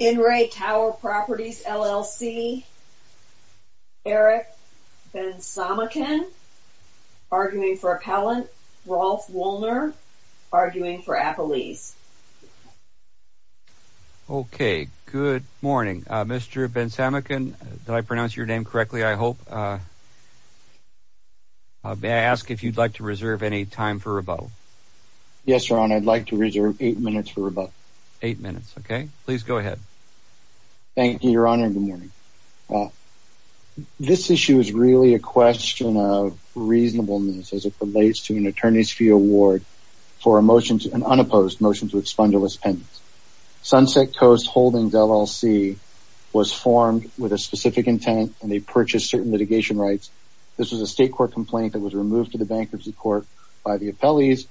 In re Tower Properties, LLC. Eric Bensamikin arguing for appellant, Rolf Wollner arguing for appellees. Okay, good morning. Mr. Bensamikin, did I pronounce your name correctly? I hope. May I ask if you'd like to reserve any time for rebuttal? Yes, Your Honor, I'd like to reserve eight minutes for rebuttal. Eight minutes. Okay, please go ahead. Thank you, Your Honor. Good morning. Well, this issue is really a question of reasonableness as it relates to an attorney's fee award for a motion to an unopposed motion to expunge a list pendants. Sunset Coast Holdings LLC was formed with a specific intent and they purchased certain litigation rights. This was a state court complaint that was removed to the bankruptcy court by the appellees,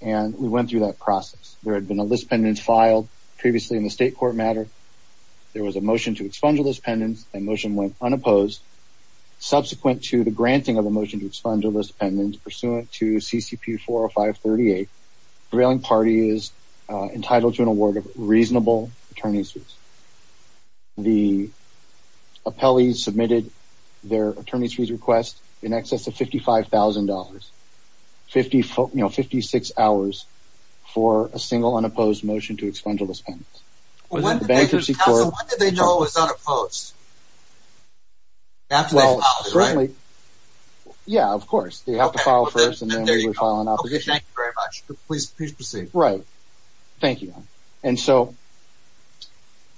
and we went through that file previously in the state court matter. There was a motion to expunge a list pendants and motion went unopposed. Subsequent to the granting of a motion to expunge a list pendants pursuant to CCP 40538, prevailing party is entitled to an award of reasonable attorney's fees. The appellees submitted their attorney's fees request in excess of $55,000. You know, 56 hours for a single unopposed motion to expunge a list pendants. When did they know it was unopposed? After they filed it, right? Yeah, of course. They have to file first and then we file an obligation. Okay, thank you very much. Please proceed. Right. Thank you, Your Honor. And so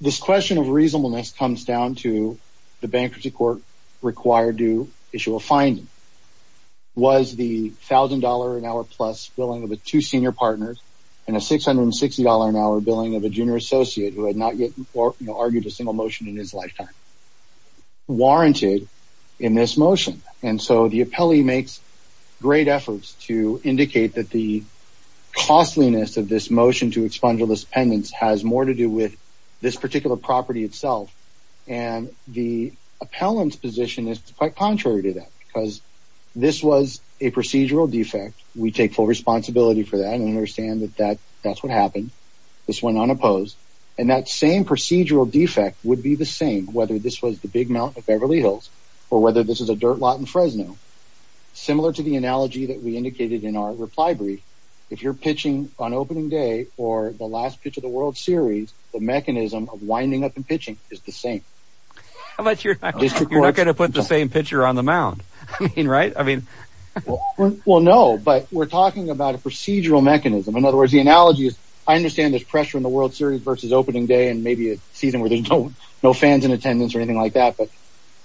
this question of reasonableness comes down to the bankruptcy court required to issue a finding. Was the $1,000 an hour plus billing of the two senior partners and a $660 an hour billing of a junior associate who had not yet argued a single motion in his lifetime warranted in this motion? And so the appellee makes great efforts to indicate that the costliness of this motion to expunge a list pendants has more to do with this particular property itself and the appellant's position is quite contrary to that because this was a procedural defect. We take full responsibility for that and understand that that's what happened. This went unopposed and that same procedural defect would be the same whether this was the Big Mount of Beverly Hills or whether this is a dirt lot in Fresno. Similar to the analogy that we indicated in our reply brief, if you're pitching on opening day or the last pitch of the World Series, the mechanism of winding up and pitching is the same. How about you're not gonna put the same pitcher on the mound? I mean, right? I mean, well no, but we're talking about a procedural mechanism. In other words, the analogy is I understand there's pressure in the World Series versus opening day and maybe a season where there's no fans in attendance or anything like that, but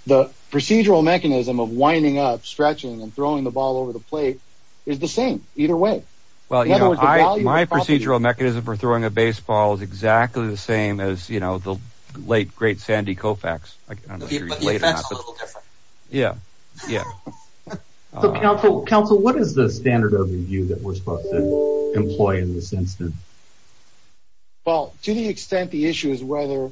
the procedural mechanism of winding up, stretching, and throwing the ball over the plate is the same either way. Well, my procedural mechanism for throwing a baseball is exactly the same as you know the late great Sandy Koufax. But the effect's a little different. Yeah, yeah. Counsel, what is the standard of review that we're supposed to employ in this instance? Well, to the extent the issue is whether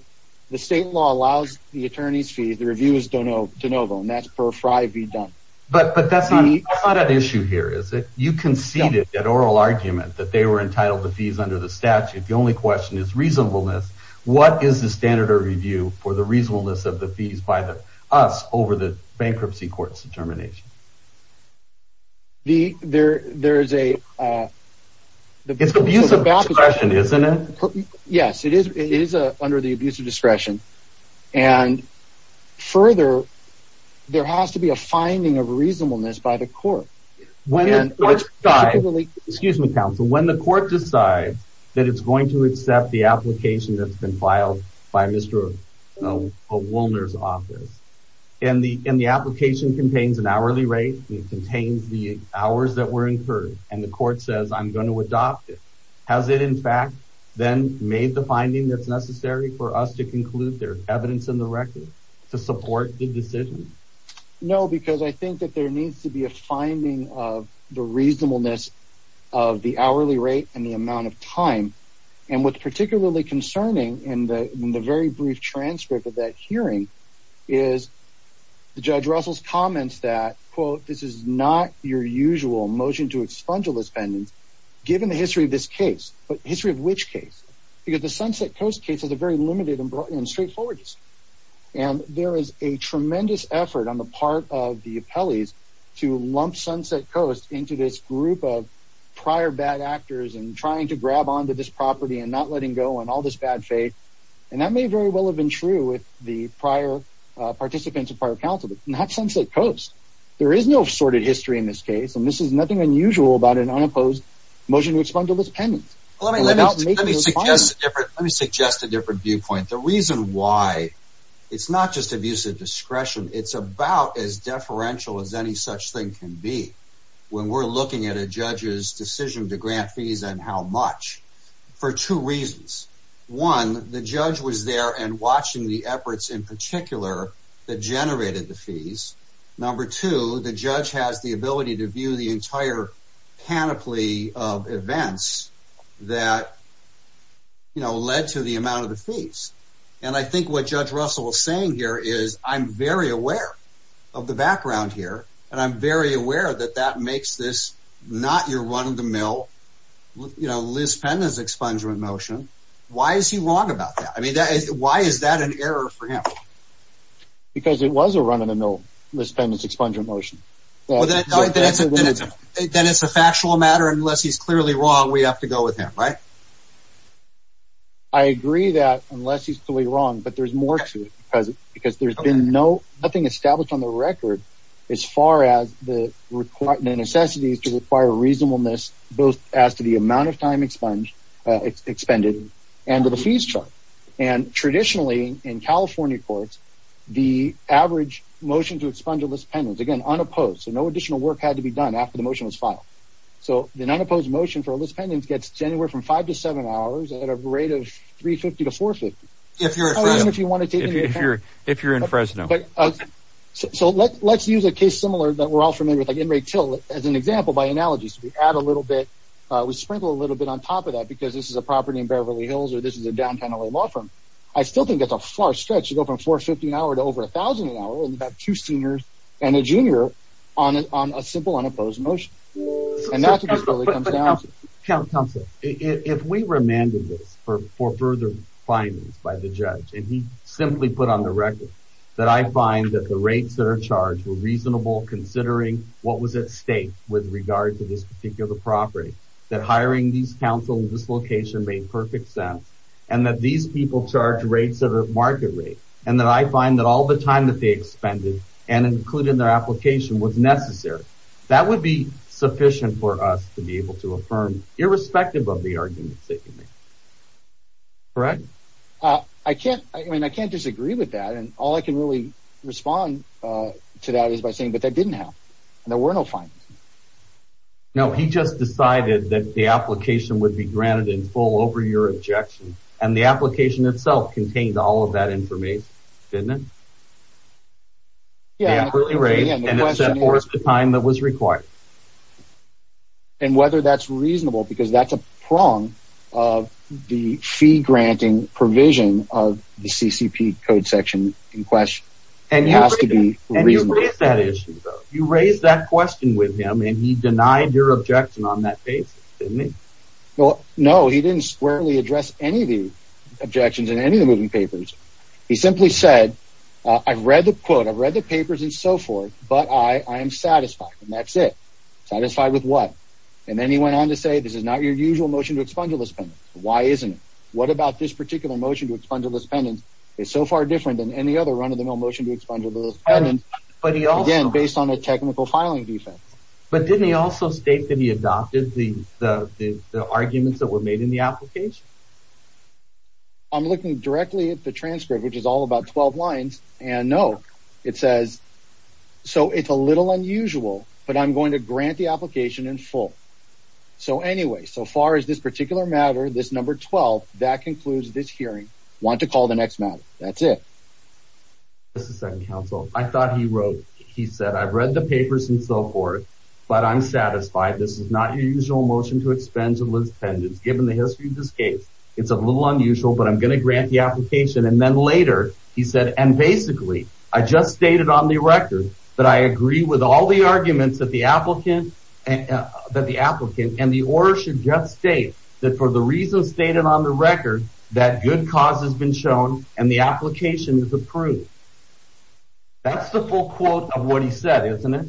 the state law allows the attorney's fee, the review is de novo and that's per fri be done. But that's not an issue here, is it? You conceded that oral argument that they were entitled to fees under the statute. The only question is reasonableness. What is the standard of review for the reasonableness of the fees by us over the bankruptcy court's determination? It's abuse of discretion, isn't it? Yes, it is under the abuse of discretion. And further, there has to be a reasonableness of the hourly rate. If the court decides that it's going to accept the application that's been filed by Mr. Woolner's office, and the application contains an hourly rate, it contains the hours that were incurred, and the court says I'm going to adopt it, has it in fact then made the finding that's necessary for us to conclude there's evidence in the record to support the decision? No, because I think that there needs to be a rate and the amount of time. And what's particularly concerning in the very brief transcript of that hearing is the judge Russell's comments that, quote, this is not your usual motion to expunge all this pendants, given the history of this case. But history of which case? Because the Sunset Coast case is a very limited and straightforward case. And there is a tremendous effort on the part of the appellees to lump Sunset Coast into this group of prior bad actors, and trying to grab onto this property, and not letting go, and all this bad faith. And that may very well have been true with the prior participants of prior counsel, but not Sunset Coast. There is no sorted history in this case, and this is nothing unusual about an unopposed motion to expunge all this pendants. Let me suggest a different viewpoint. The reason why it's not just abuse of as any such thing can be, when we're looking at a judge's decision to grant fees and how much, for two reasons. One, the judge was there and watching the efforts in particular that generated the fees. Number two, the judge has the ability to view the entire panoply of events that, you know, led to the amount of the fees. And I think what Judge Russell was saying here is, I'm very aware of the background here, and I'm very aware that that makes this not your run-of-the-mill, you know, Liz Penden's expungement motion. Why is he wrong about that? I mean, why is that an error for him? Because it was a run-of-the-mill, Liz Penden's expungement motion. Then it's a factual matter, and unless he's clearly wrong, we have to go with him, right? I agree that, unless he's clearly established on the record as far as the necessity to require reasonableness, both as to the amount of time expended and to the fees chart. And traditionally, in California courts, the average motion to expunge a Liz Penden's, again, unopposed, so no additional work had to be done after the motion was filed. So an unopposed motion for Liz Penden's gets anywhere from five to seven hours at a rate of $3.50 to $4.50. If you're in Fresno. So let's use a case similar that we're all familiar with, like Enright Till, as an example by analogy. So we add a little bit, we sprinkle a little bit on top of that, because this is a property in Beverly Hills or this is a downtown LA law firm. I still think it's a far stretch to go from $4.50 to over $1,000 an hour, and you have two seniors and a junior on a simple unopposed motion. And that's what comes down to. If we remanded this for further findings by the judge, and he simply put on the record that I find that the rates that are charged were reasonable considering what was at stake with regard to this particular property, that hiring these counsel in this location made perfect sense, and that these people charge rates that are market rate, and that I find that all the time that they expended and included in their application was necessary. That would be sufficient for us to be able to affirm, irrespective of the arguments they can make. Correct? I can't, I mean, I can't disagree with that, and all I can really respond to that is by saying, but that didn't happen. There were no findings. No, he just decided that the application would be granted in full over your objection, and the application itself contained all of that information, didn't it? Yeah, and it set forth the time that was required. And whether that's reasonable, because that's a prong of the fee-granting provision of the CCP code section in question, and it has to be reasonable. And you raised that issue, though. You raised that question with him, and he denied your objection on that basis, didn't he? Well, no, he didn't squarely address any of the objections in any of the moving papers. He simply said, I've read the quote, I've read the papers, and so forth, but I am satisfied, and that's it. Satisfied with what? And then he went on to say, this is not your usual motion to expunge a list pendant. Why isn't it? What about this particular motion to expunge a list pendant? It's so far different than any other run-of-the-mill motion to expunge a list pendant, again, based on a technical filing defense. But didn't he also state that he adopted the arguments that were made in the application? I'm looking directly at the but I'm going to grant the application in full. So anyway, so far as this particular matter, this number 12, that concludes this hearing. Want to call the next matter. That's it. I thought he wrote, he said, I've read the papers and so forth, but I'm satisfied this is not your usual motion to expunge a list pendant. Given the history of this case, it's a little unusual, but I'm gonna grant the application. And then later, he said, and basically, I just stated on the record that I agree with all the arguments that the applicant, that the applicant and the order should just state that for the reasons stated on the record, that good cause has been shown and the application is approved. That's the full quote of what he said, isn't it?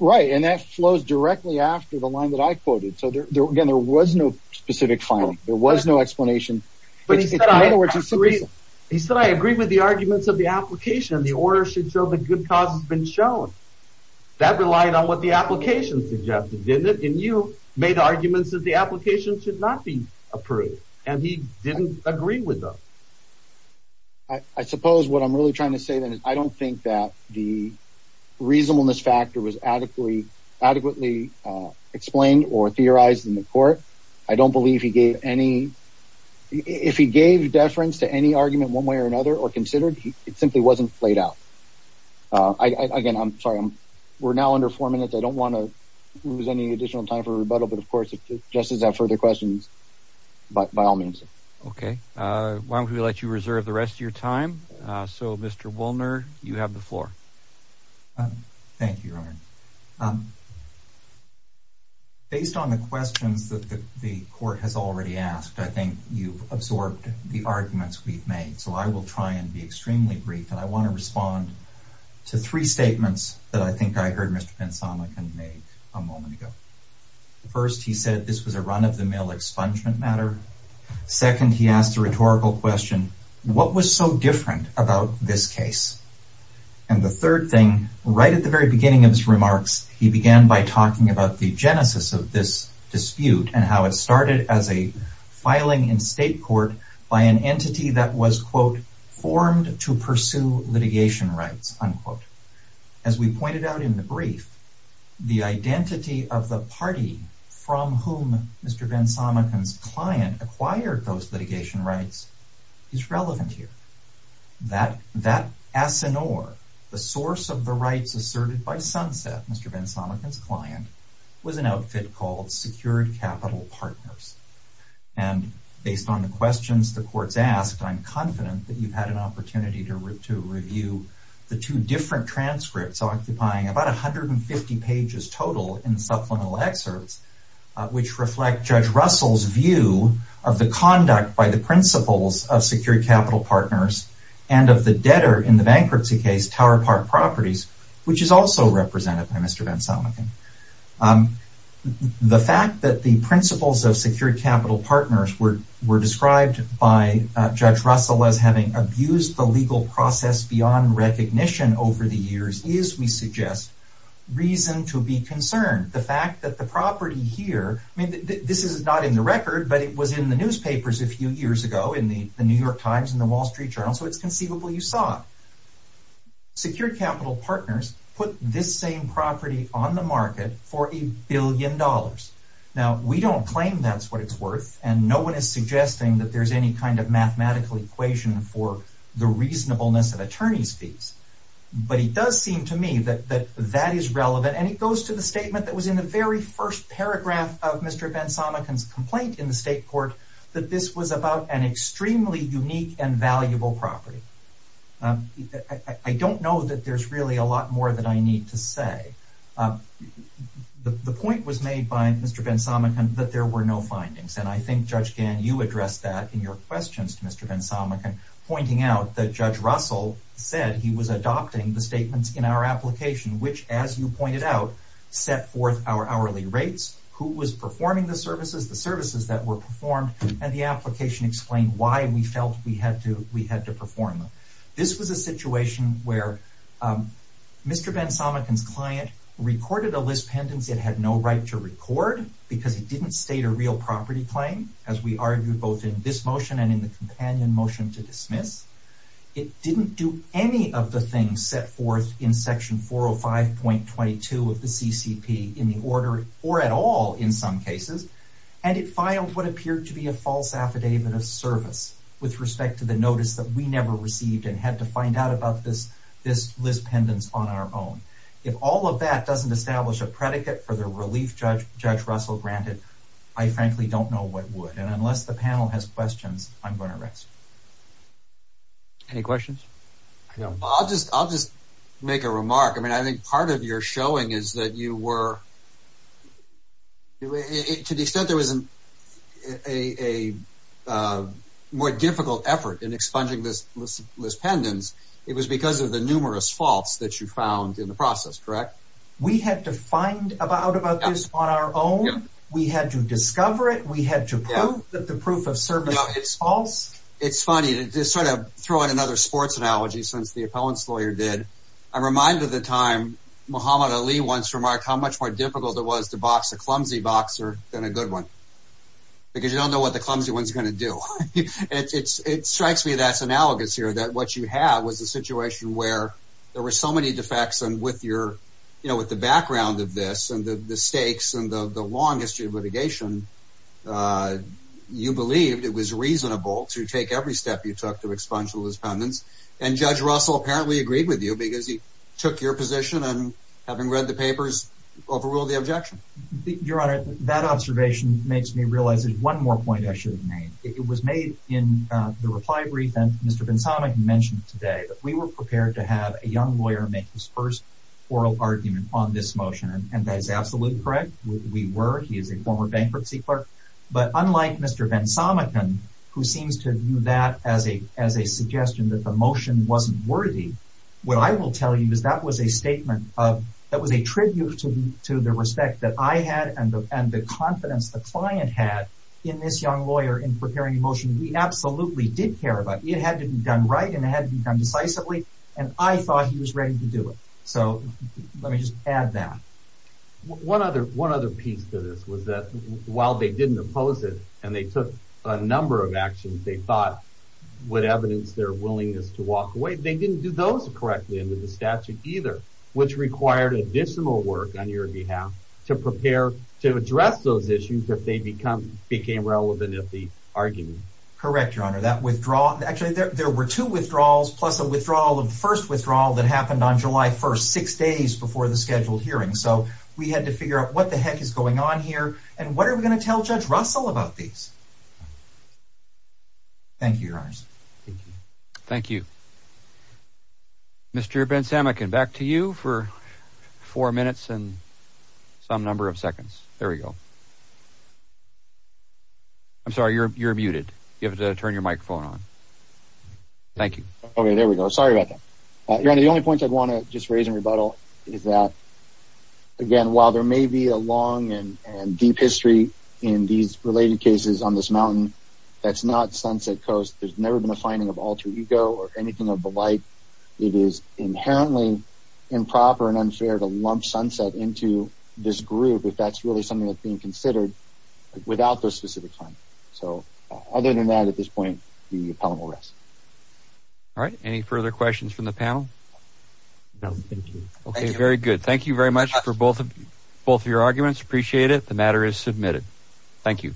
Right, and that flows directly after the line that I quoted. So there, again, there was no specific filing. There was no explanation. He said, I agree with the arguments of the application. The order should show the good cause has been shown. That relied on what the application suggested, didn't it? And you made arguments that the application should not be approved, and he didn't agree with them. I suppose what I'm really trying to say then is I don't think that the reasonableness factor was adequately adequately explained or theorized in the court. I don't believe he gave any, if he gave deference to any argument one way or another or considered, it simply wasn't played out. Again, I'm sorry, we're now under four minutes. I don't want to lose any additional time for rebuttal, but of course, if Justice has further questions, by all means. Okay, why don't we let you reserve the rest of your time? So, Mr. Woolner, you have the floor. Thank you, Your Honor. Based on the questions that the court has already asked, I think you've absorbed the arguments we've made, so I will try and be extremely brief, and I want to respond to three statements that I think I heard Mr. Bensamakan make a moment ago. First, he said this was a run-of-the-mill expungement matter. Second, he asked a rhetorical question. What was so different about this case? And the third thing, right at the very beginning of his remarks, he began by talking about the genesis of this dispute and how it started as a filing in state court by an entity that was, quote, formed to pursue litigation rights, unquote. As we pointed out in the brief, the identity of the party from whom Mr. Bensamakan's client acquired those litigation rights is relevant here. That asinore, the source of the rights asserted by Sunset, Mr. Bensamakan's partners. And based on the questions the court's asked, I'm confident that you've had an opportunity to review the two different transcripts occupying about a hundred and fifty pages total in the supplemental excerpts, which reflect Judge Russell's view of the conduct by the principals of Secure Capital Partners and of the debtor in the bankruptcy case, Tower Park Properties, which is also represented by Mr. Bensamakan. The fact that the principals of Secure Capital Partners were described by Judge Russell as having abused the legal process beyond recognition over the years is, we suggest, reason to be concerned. The fact that the property here, I mean, this is not in the record, but it was in the newspapers a few years ago in the New York Times and the Wall Street Journal, you saw Secure Capital Partners put this same property on the market for a billion dollars. Now, we don't claim that's what it's worth, and no one is suggesting that there's any kind of mathematical equation for the reasonableness of attorney's fees. But it does seem to me that that is relevant, and it goes to the statement that was in the very first paragraph of Mr. Bensamakan's complaint in the state court, that this was about an extremely unique and I don't know that there's really a lot more that I need to say. The point was made by Mr. Bensamakan that there were no findings, and I think, Judge Gann, you addressed that in your questions to Mr. Bensamakan, pointing out that Judge Russell said he was adopting the statements in our application, which, as you pointed out, set forth our hourly rates, who was performing the services, the services that were performed, and the application explained why we felt we had to perform them. This was a situation where Mr. Bensamakan's client recorded a list pendants it had no right to record because it didn't state a real property claim, as we argued both in this motion and in the companion motion to dismiss. It didn't do any of the things set forth in section 405.22 of the CCP in the order, or at all in some cases, and it filed what appeared to be a false affidavit of service with respect to the notice that we never received and had to find out about this list pendants on our own. If all of that doesn't establish a predicate for the relief Judge Russell granted, I frankly don't know what would, and unless the panel has questions, I'm going to rest. Any questions? I'll just make a remark. I mean, I think part of your showing is that you were, to the extent there wasn't a more difficult effort in expunging this list pendants, it was because of the numerous faults that you found in the process, correct? We had to find out about this on our own, we had to discover it, we had to prove that the proof of service is false. It's funny, to sort of throw in another sports analogy, since the appellant's lawyer did, I'm reminded of the time Muhammad Ali once remarked how much more difficult it was to box a clumsy boxer than a good one, because you don't know what the clumsy one's gonna do. It strikes me that's analogous here, that what you have was a situation where there were so many defects, and with your, you know, with the background of this, and the stakes, and the long history of litigation, you believed it was reasonable to take every step you took to expunge the list pendants, and Judge Russell apparently agreed with you, because he took your position, and having read the papers, overruled the objection. Your Honor, that observation makes me realize there's one more point I should have made. It was made in the reply brief, and Mr. Bensamekin mentioned today, that we were prepared to have a young lawyer make his first oral argument on this motion, and that is absolutely correct. We were, he is a former bankruptcy clerk, but unlike Mr. Bensamekin, who seems to view that as a, as a suggestion that the motion wasn't worthy, what I will tell you is that was a statement of, that was a tribute to the respect that I had, and the confidence the client had in this young lawyer in preparing a motion we absolutely did care about. It had to be done right, and it had to be done decisively, and I thought he was ready to do it. So let me just add that. One other, one other piece to this was that while they didn't oppose it, and they took a number of actions they thought would evidence their willingness to walk away, they didn't do those correctly under the statute either, which required additional work on your behalf to prepare to address those issues if they become, became relevant at the argument. Correct Your Honor, that withdrawal, actually there were two withdrawals, plus a withdrawal of the first withdrawal that happened on July 1st, six days before the scheduled hearing. So we had to figure out what the heck is going on here, and what are we going to tell Judge Russell about these? Thank you, Your Honors. Thank you. Mr. Ben Samekin, back to you for four minutes and some number of seconds. There we go. I'm sorry, you're muted. You have to turn your microphone on. Thank you. Okay, there we go. Sorry about that. Your Honor, the only point I'd want to just make is that there's no specific history in these related cases on this mountain that's not Sunset Coast. There's never been a finding of alter ego or anything of the like. It is inherently improper and unfair to lump Sunset into this group if that's really something that's being considered without those specific findings. So other than that at this point, the appellant will rest. All right, any further questions from the panel? No, thank you. Okay, very good. Thank you very much for both of your arguments. Appreciate it. The matter is submitted. Thank you.